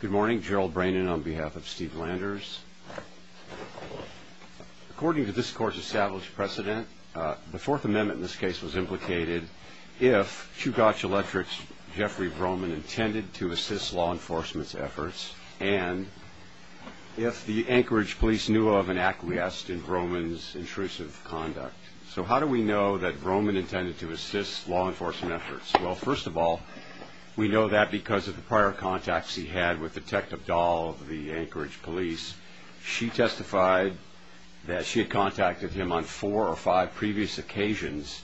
Good morning, Gerald Brannon on behalf of Steve Landers. According to this court's established precedent, the Fourth Amendment in this case was implicated if Chugach Electric's Jeffrey Broman intended to assist law enforcement's efforts and if the Anchorage police knew of an acquiesce in Broman's intrusive conduct. So how do we know that Broman intended to assist law enforcement efforts? Well, first of all, we know that because of the prior contacts he had with Detective Dahl of the Anchorage police. She testified that she had contacted him on four or five previous occasions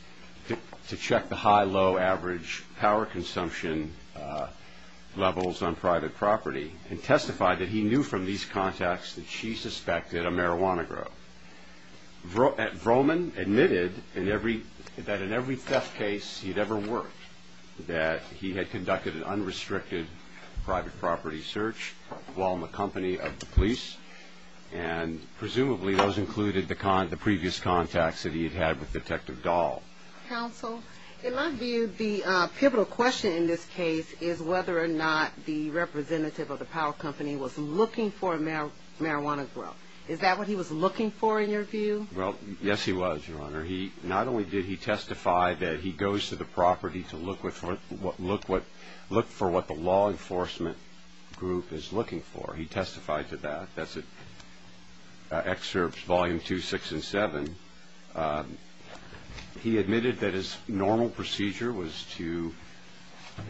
to check the high-low average power consumption levels on private property and testified that he knew from these contacts that she suspected a marijuana growth. Broman admitted that in every theft case he'd ever worked that he had conducted an unrestricted private property search while in the company of the police and presumably those included the previous contacts that he had with Detective Dahl. In my view, the pivotal question in this case is whether or not the representative of the power company was looking for marijuana growth. Is that what he was looking for in your view? Well, yes he was, Your Honor. Not only did he testify that he goes to the property to look for what the law enforcement group is looking for, he testified to that. That's in Excerpts Volume 2, 6, and 7. He admitted that his normal procedure was to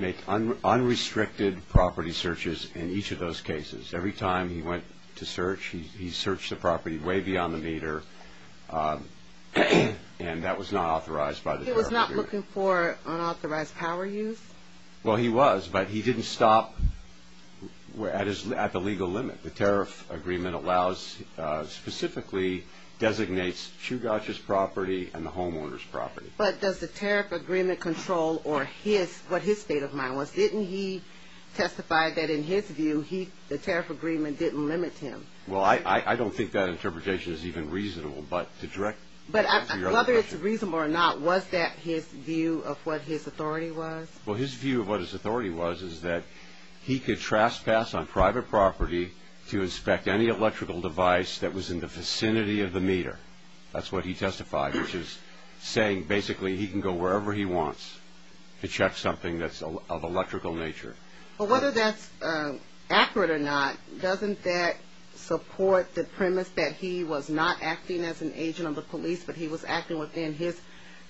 make unrestricted property searches in each of those cases. Every time he went to search, he searched the property way beyond the meter and that was not authorized by the tariff agreement. He was not looking for unauthorized power use? Well, he was, but he didn't stop at the legal limit. The tariff agreement specifically designates Chugach's property and the homeowner's property. But does the tariff agreement control what his state of mind was? Didn't he testify that in his view, the tariff agreement didn't limit him? Well, I don't think that interpretation is even reasonable. But whether it's reasonable or not, was that his view of what his authority was? Well, his view of what his authority was is that he could trespass on private property to inspect any electrical device that was in the vicinity of the meter. That's what he testified, which is saying basically he can go wherever he wants to check something that's of electrical nature. But whether that's accurate or not, doesn't that support the premise that he was not acting as an agent of the police, but he was acting within his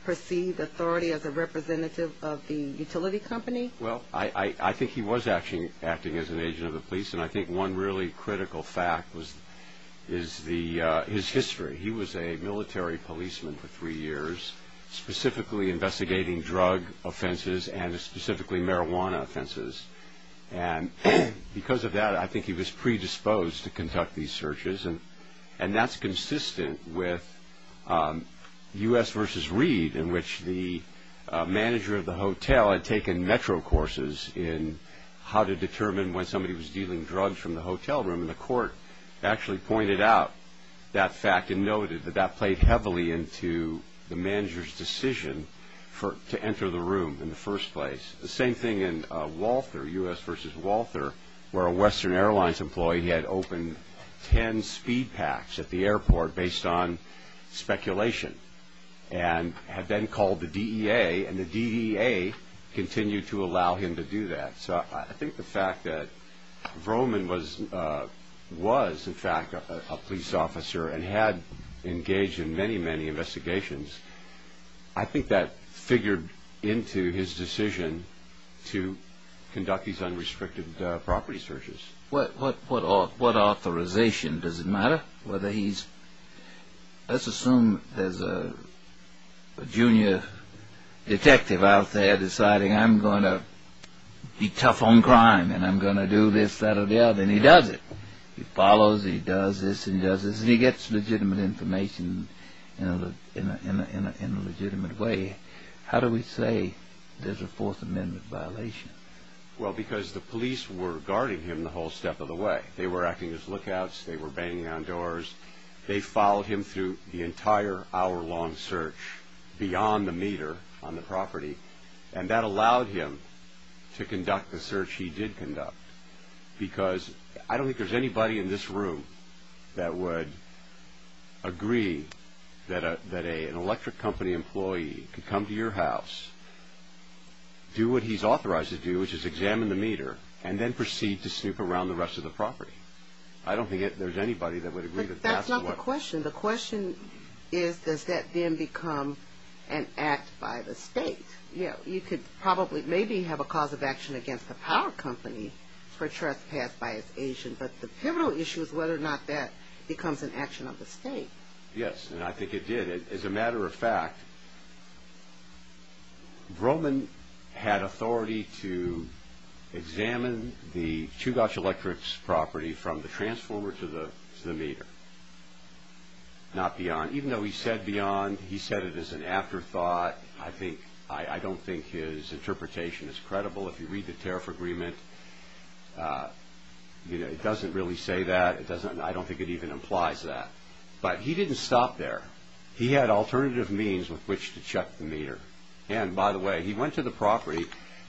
perceived authority as a representative of the utility company? Well, I think he was acting as an agent of the police, and I think one really critical fact is his history. He was a military policeman for three years, specifically investigating drug offenses and specifically marijuana offenses. And because of that, I think he was predisposed to conduct these searches, and that's consistent with U.S. v. Reed, in which the manager of the hotel had taken metro courses in how to determine when somebody was dealing drugs from the hotel room. And the court actually pointed out that fact and noted that that played heavily into the manager's decision to enter the room in the first place. The same thing in Walther, U.S. v. Walther, where a Western Airlines employee had opened ten speed packs at the airport based on speculation and had then called the DEA, and the DEA continued to allow him to do that. So I think the fact that Vroman was in fact a police officer and had engaged in many, many investigations, I think that figured into his decision to conduct these unrestricted property searches. What authorization? Does it matter whether he's... Let's assume there's a junior detective out there deciding, I'm going to be tough on crime and I'm going to do this, that, or the other, and he does it. He follows, he does this and does this, and he gets legitimate information in a legitimate way. How do we say there's a Fourth Amendment violation? Well, because the police were guarding him the whole step of the way. They were acting as lookouts, they were banging on doors. They followed him through the entire hour-long search beyond the meter on the property, and that allowed him to conduct the search he did conduct. Because I don't think there's anybody in this room that would agree that an electric company employee could come to your house, do what he's authorized to do, which is examine the meter, and then proceed to snoop around the rest of the property. I don't think there's anybody that would agree that that's what... But that's not the question. The question is, does that then become an act by the state? You could probably, maybe have a cause of action against the power company for trespass by its agent, but the pivotal issue is whether or not that becomes an action of the state. Yes, and I think it did. As a matter of fact, Broman had authority to examine the Chugach Electric's property from the transformer to the meter, not beyond. Even though he said beyond, he said it as an afterthought. I don't think his interpretation is credible. If you read the tariff agreement, it doesn't really say that. I don't think it even implies that. But he didn't stop there. He had alternative means with which to check the meter. And by the way, he went to the property.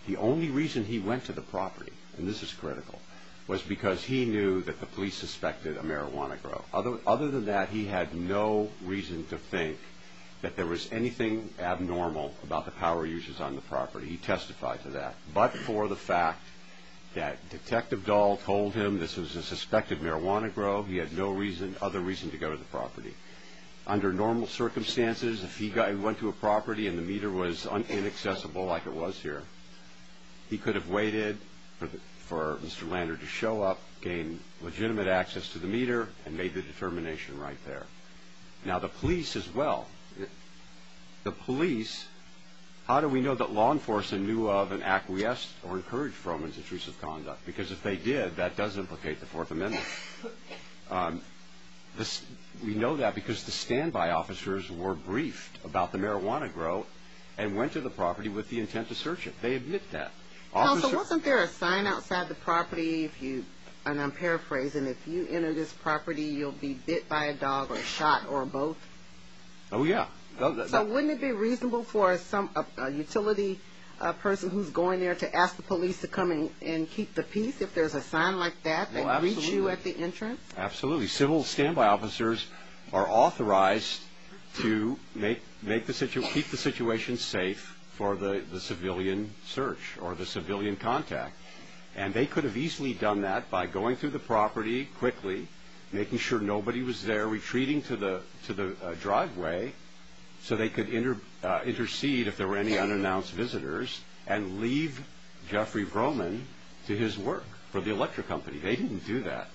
The only reason he went to the property, and this is critical, was because he knew that the police suspected a marijuana grow. Other than that, he had no reason to think that there was anything abnormal about the power uses on the property. He testified to that. But for the fact that Detective Dahl told him this was a suspected marijuana grow, he had no other reason to go to the property. Under normal circumstances, if he went to a property and the meter was inaccessible like it was here, he could have waited for Mr. Lander to show up, gain legitimate access to the meter, and made the determination right there. Now, the police as well. The police, how do we know that law enforcement knew of and acquiesced or encouraged Froman's intrusive conduct? Because if they did, that does implicate the Fourth Amendment. We know that because the standby officers were briefed about the marijuana grow and went to the property with the intent to search it. They admit that. Counsel, wasn't there a sign outside the property, and I'm paraphrasing, if you enter this property you'll be bit by a dog or shot or both? Oh, yeah. So wouldn't it be reasonable for a utility person who's going there to ask the police to come and keep the peace if there's a sign like that that greets you at the entrance? Absolutely. Actually, civil standby officers are authorized to keep the situation safe for the civilian search or the civilian contact, and they could have easily done that by going through the property quickly, making sure nobody was there, retreating to the driveway so they could intercede if there were any unannounced visitors, and leave Jeffrey Broman to his work for the electric company. They didn't do that.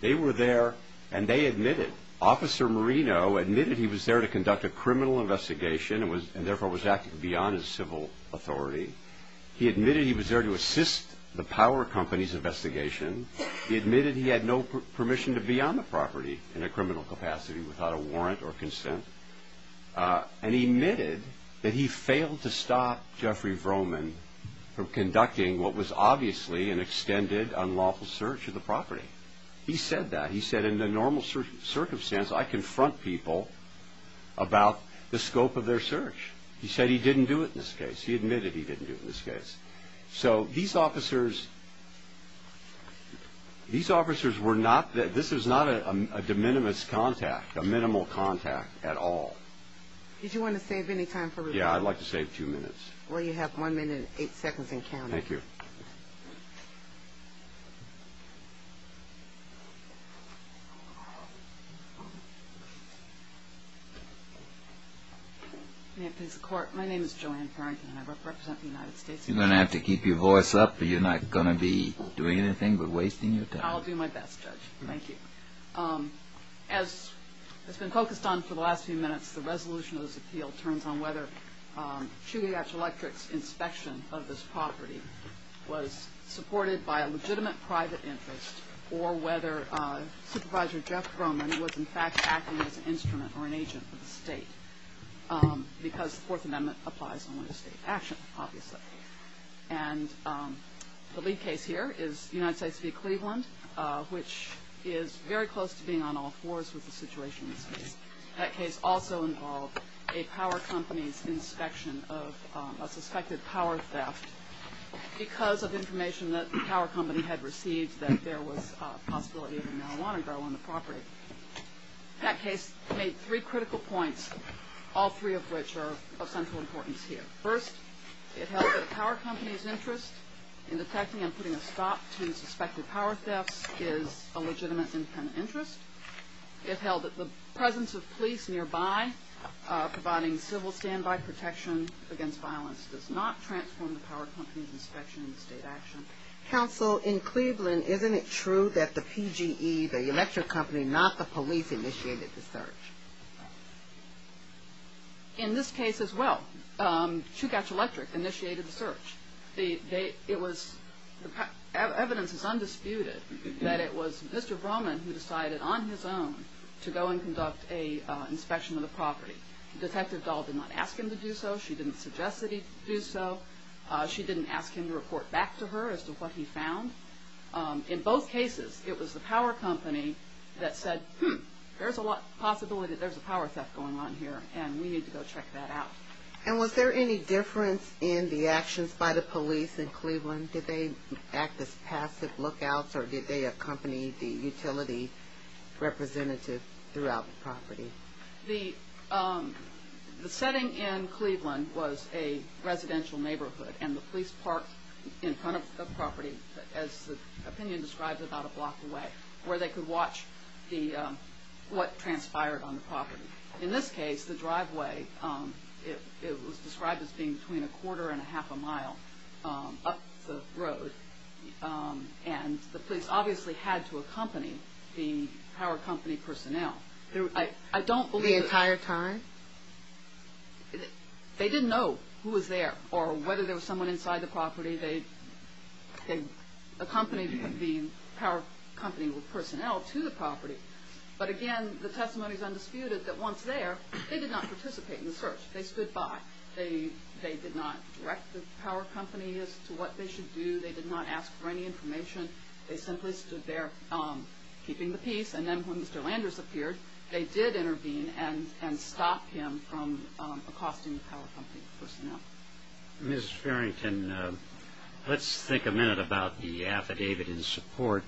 They were there, and they admitted. Officer Marino admitted he was there to conduct a criminal investigation and therefore was acting beyond his civil authority. He admitted he was there to assist the power company's investigation. He admitted he had no permission to be on the property in a criminal capacity without a warrant or consent. And he admitted that he failed to stop Jeffrey Broman from conducting what was obviously an extended, unlawful search of the property. He said that. He said, in the normal circumstance, I confront people about the scope of their search. He said he didn't do it in this case. He admitted he didn't do it in this case. So these officers were not a de minimis contact, a minimal contact at all. Did you want to save any time for review? Yeah, I'd like to save two minutes. Well, you have one minute and eight seconds and counting. Thank you. May it please the Court. My name is Joanne Farrington, and I represent the United States. You're going to have to keep your voice up, or you're not going to be doing anything but wasting your time. I'll do my best, Judge. As has been focused on for the last few minutes, the resolution of this appeal turns on whether Chugach Electric's inspection of this property was supported by a legitimate private interest, or whether Supervisor Jeff Broman was, in fact, acting as an instrument or an agent for the state, because the Fourth Amendment applies only to state action, obviously. And the lead case here is United States v. Cleveland, which is very close to being on all fours with the situation in this case. That case also involved a power company's inspection of a suspected power theft because of information that the power company had received that there was a possibility of a marijuana grow on the property. That case made three critical points, all three of which are of central importance here. First, it held that a power company's interest in detecting and putting a stop to suspected power thefts is a legitimate independent interest. It held that the presence of police nearby providing civil standby protection against violence does not transform the power company's inspection in the state action. Counsel, in Cleveland, isn't it true that the PGE, the electric company, not the police initiated the search? In this case as well, Chugach Electric initiated the search. Evidence is undisputed that it was Mr. Broman who decided on his own to go and conduct an inspection of the property. Detective Dahl did not ask him to do so. She didn't suggest that he do so. She didn't ask him to report back to her as to what he found. In both cases, it was the power company that said, hmm, there's a possibility that there's a power theft going on here, and we need to go check that out. And was there any difference in the actions by the police in Cleveland? Did they act as passive lookouts, or did they accompany the utility representative throughout the property? The setting in Cleveland was a residential neighborhood, and the police parked in front of the property, as the opinion describes, about a block away, where they could watch what transpired on the property. In this case, the driveway, it was described as being between a quarter and a half a mile up the road, and the police obviously had to accompany the power company personnel. The entire time? They didn't know who was there, or whether there was someone inside the property. But again, the testimony is undisputed that once there, they did not participate in the search. They stood by. They did not direct the power company as to what they should do. They did not ask for any information. They simply stood there keeping the peace, and then when Mr. Landers appeared, they did intervene and stop him from accosting the power company personnel. Ms. Farrington, let's think a minute about the affidavit in support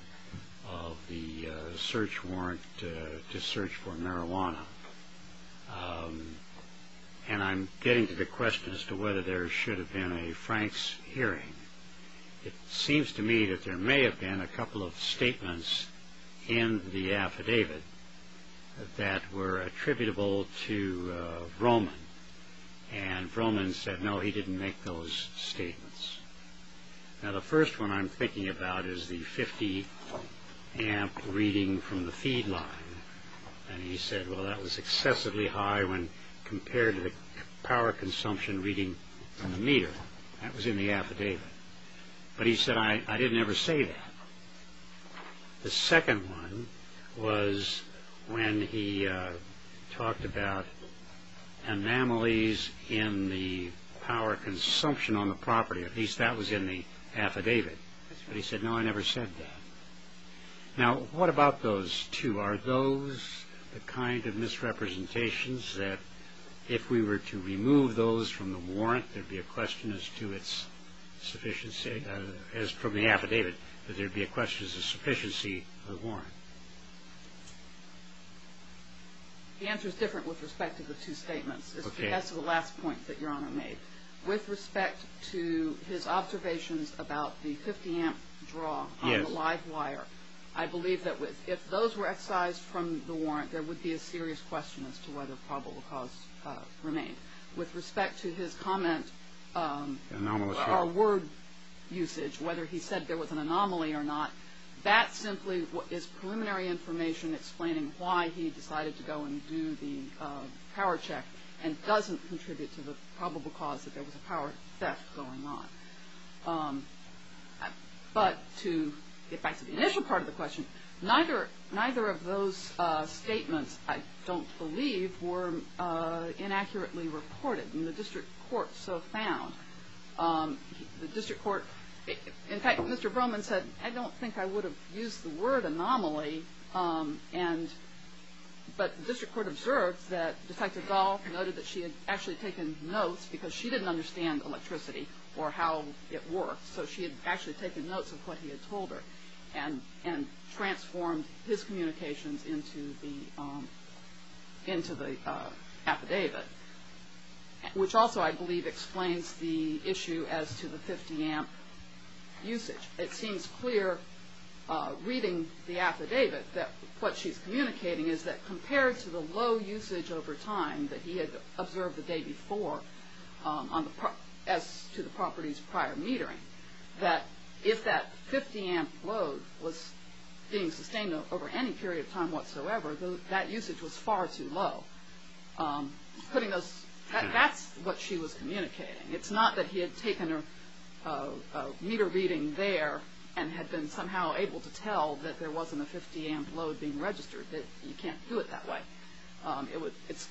of the search warrant to search for marijuana. And I'm getting to the question as to whether there should have been a Franks hearing. It seems to me that there may have been a couple of statements in the affidavit that were attributable to Roman, and Roman said no, he didn't make those statements. Now, the first one I'm thinking about is the 50-amp reading from the feed line, and he said, well, that was excessively high when compared to the power consumption reading from the meter. That was in the affidavit. But he said, I didn't ever say that. The second one was when he talked about anomalies in the power consumption on the property. At least that was in the affidavit. But he said, no, I never said that. Now, what about those two? Are those the kind of misrepresentations that if we were to remove those from the warrant, there would be a question as to its sufficiency, as from the affidavit, that there would be a question as to the sufficiency of the warrant? The answer is different with respect to the two statements. That's the last point that Your Honor made. With respect to his observations about the 50-amp draw on the live wire, I believe that if those were excised from the warrant, there would be a serious question as to whether probable cause remained. With respect to his comment about word usage, whether he said there was an anomaly or not, that simply is preliminary information explaining why he decided to go and do the power check and doesn't contribute to the probable cause that there was a power theft going on. But to get back to the initial part of the question, neither of those statements, I don't believe, were inaccurately reported, and the district court so found. In fact, Mr. Broman said, I don't think I would have used the word anomaly, but the district court observed that Detective Dahl noted that she had actually taken notes because she didn't understand electricity or how it worked, so she had actually taken notes of what he had told her and transformed his communications into the affidavit, which also, I believe, explains the issue as to the 50-amp usage. It seems clear reading the affidavit that what she's communicating is that compared to the low usage over time that he had observed the day before as to the property's prior metering, that if that 50-amp load was being sustained over any period of time whatsoever, that usage was far too low. That's what she was communicating. It's not that he had taken a meter reading there and had been somehow able to tell that there wasn't a 50-amp load being registered, that you can't do it that way. It's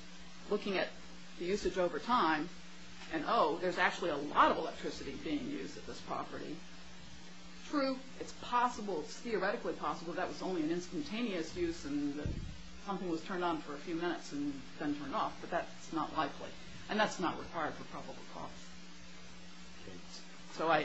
looking at the usage over time, and, oh, there's actually a lot of electricity being used at this property. True, it's possible, it's theoretically possible that was only an instantaneous use and that something was turned on for a few minutes and then turned off, but that's not likely, and that's not required for probable cause. So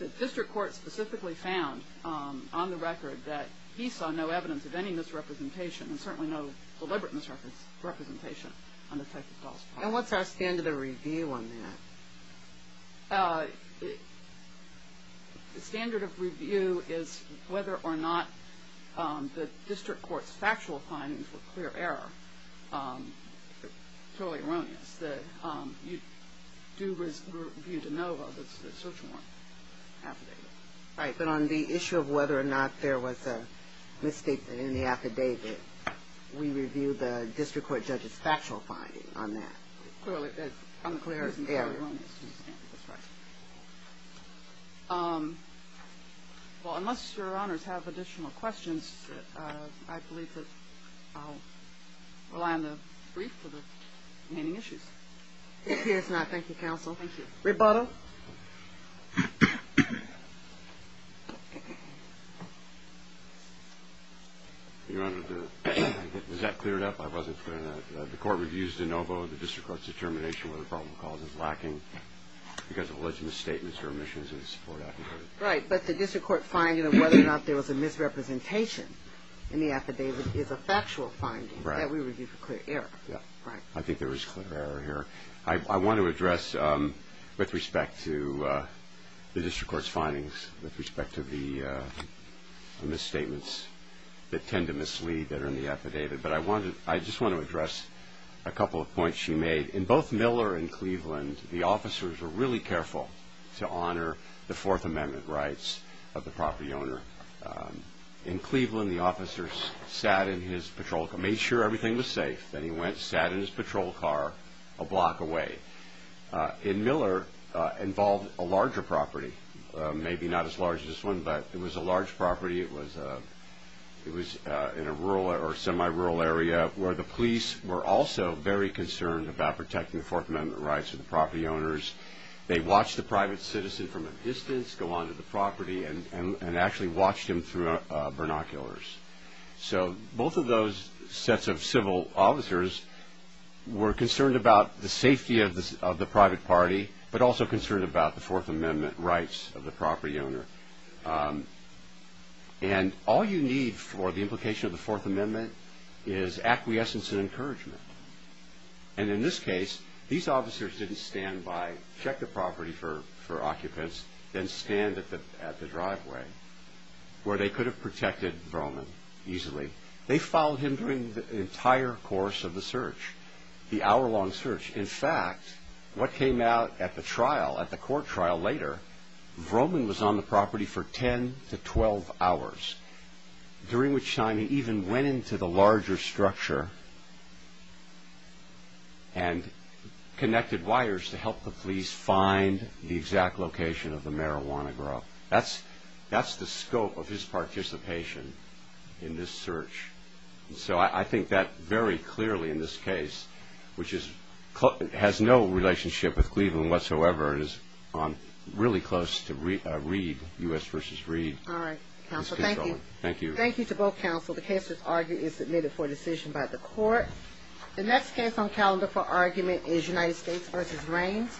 the district court specifically found on the record that he saw no evidence of any misrepresentation and certainly no deliberate misrepresentation on Detective Dahl's part. And what's our standard of review on that? The standard of review is whether or not the district court's factual findings were clear error. It's totally erroneous that you do review DeNova, the search warrant affidavit. Right, but on the issue of whether or not there was a mistake in the affidavit, we review the district court judge's factual finding on that. Clearly, it's unclear. Yeah. Well, unless your honors have additional questions, I believe that I'll rely on the brief for the remaining issues. If he has not, thank you, counsel. Thank you. Rebuttal? Your honor, does that clear it up? I wasn't clear on that. The court reviews DeNova. The district court's determination whether probable cause is lacking because of alleged misstatements or omissions in the support affidavit. Right, but the district court finding of whether or not there was a misrepresentation in the affidavit is a factual finding that we review for clear error. Yeah. Right. I think there was clear error here. I want to address, with respect to the district court's findings, with respect to the misstatements that tend to mislead that are in the affidavit, but I just want to address a couple of points she made. In both Miller and Cleveland, the officers were really careful to honor the Fourth Amendment rights of the property owner. In Cleveland, the officers sat in his patrol car, made sure everything was safe. Then he went, sat in his patrol car a block away. In Miller, involved a larger property, maybe not as large as this one, but it was a large property. It was in a rural or semi-rural area where the police were also very concerned about protecting the Fourth Amendment rights of the property owners. They watched the private citizen from a distance go onto the property and actually watched him through binoculars. Both of those sets of civil officers were concerned about the safety of the private party, but also concerned about the Fourth Amendment rights of the property owner. All you need for the implication of the Fourth Amendment is acquiescence and encouragement. In this case, these officers didn't stand by, check the property for occupants, then stand at the driveway where they could have protected Vroman easily. They followed him during the entire course of the search, the hour-long search. In fact, what came out at the trial, at the court trial later, Vroman was on the property for 10 to 12 hours, during which time he even went into the larger structure and connected wires to help the police find the exact location of the marijuana grow. That's the scope of his participation in this search. So I think that very clearly in this case, which has no relationship with Cleveland whatsoever and is really close to Reed, U.S. v. Reed. All right, counsel, thank you. Thank you. Thank you to both counsel. The case was argued and submitted for decision by the court. The next case on calendar for argument is United States v. Raines.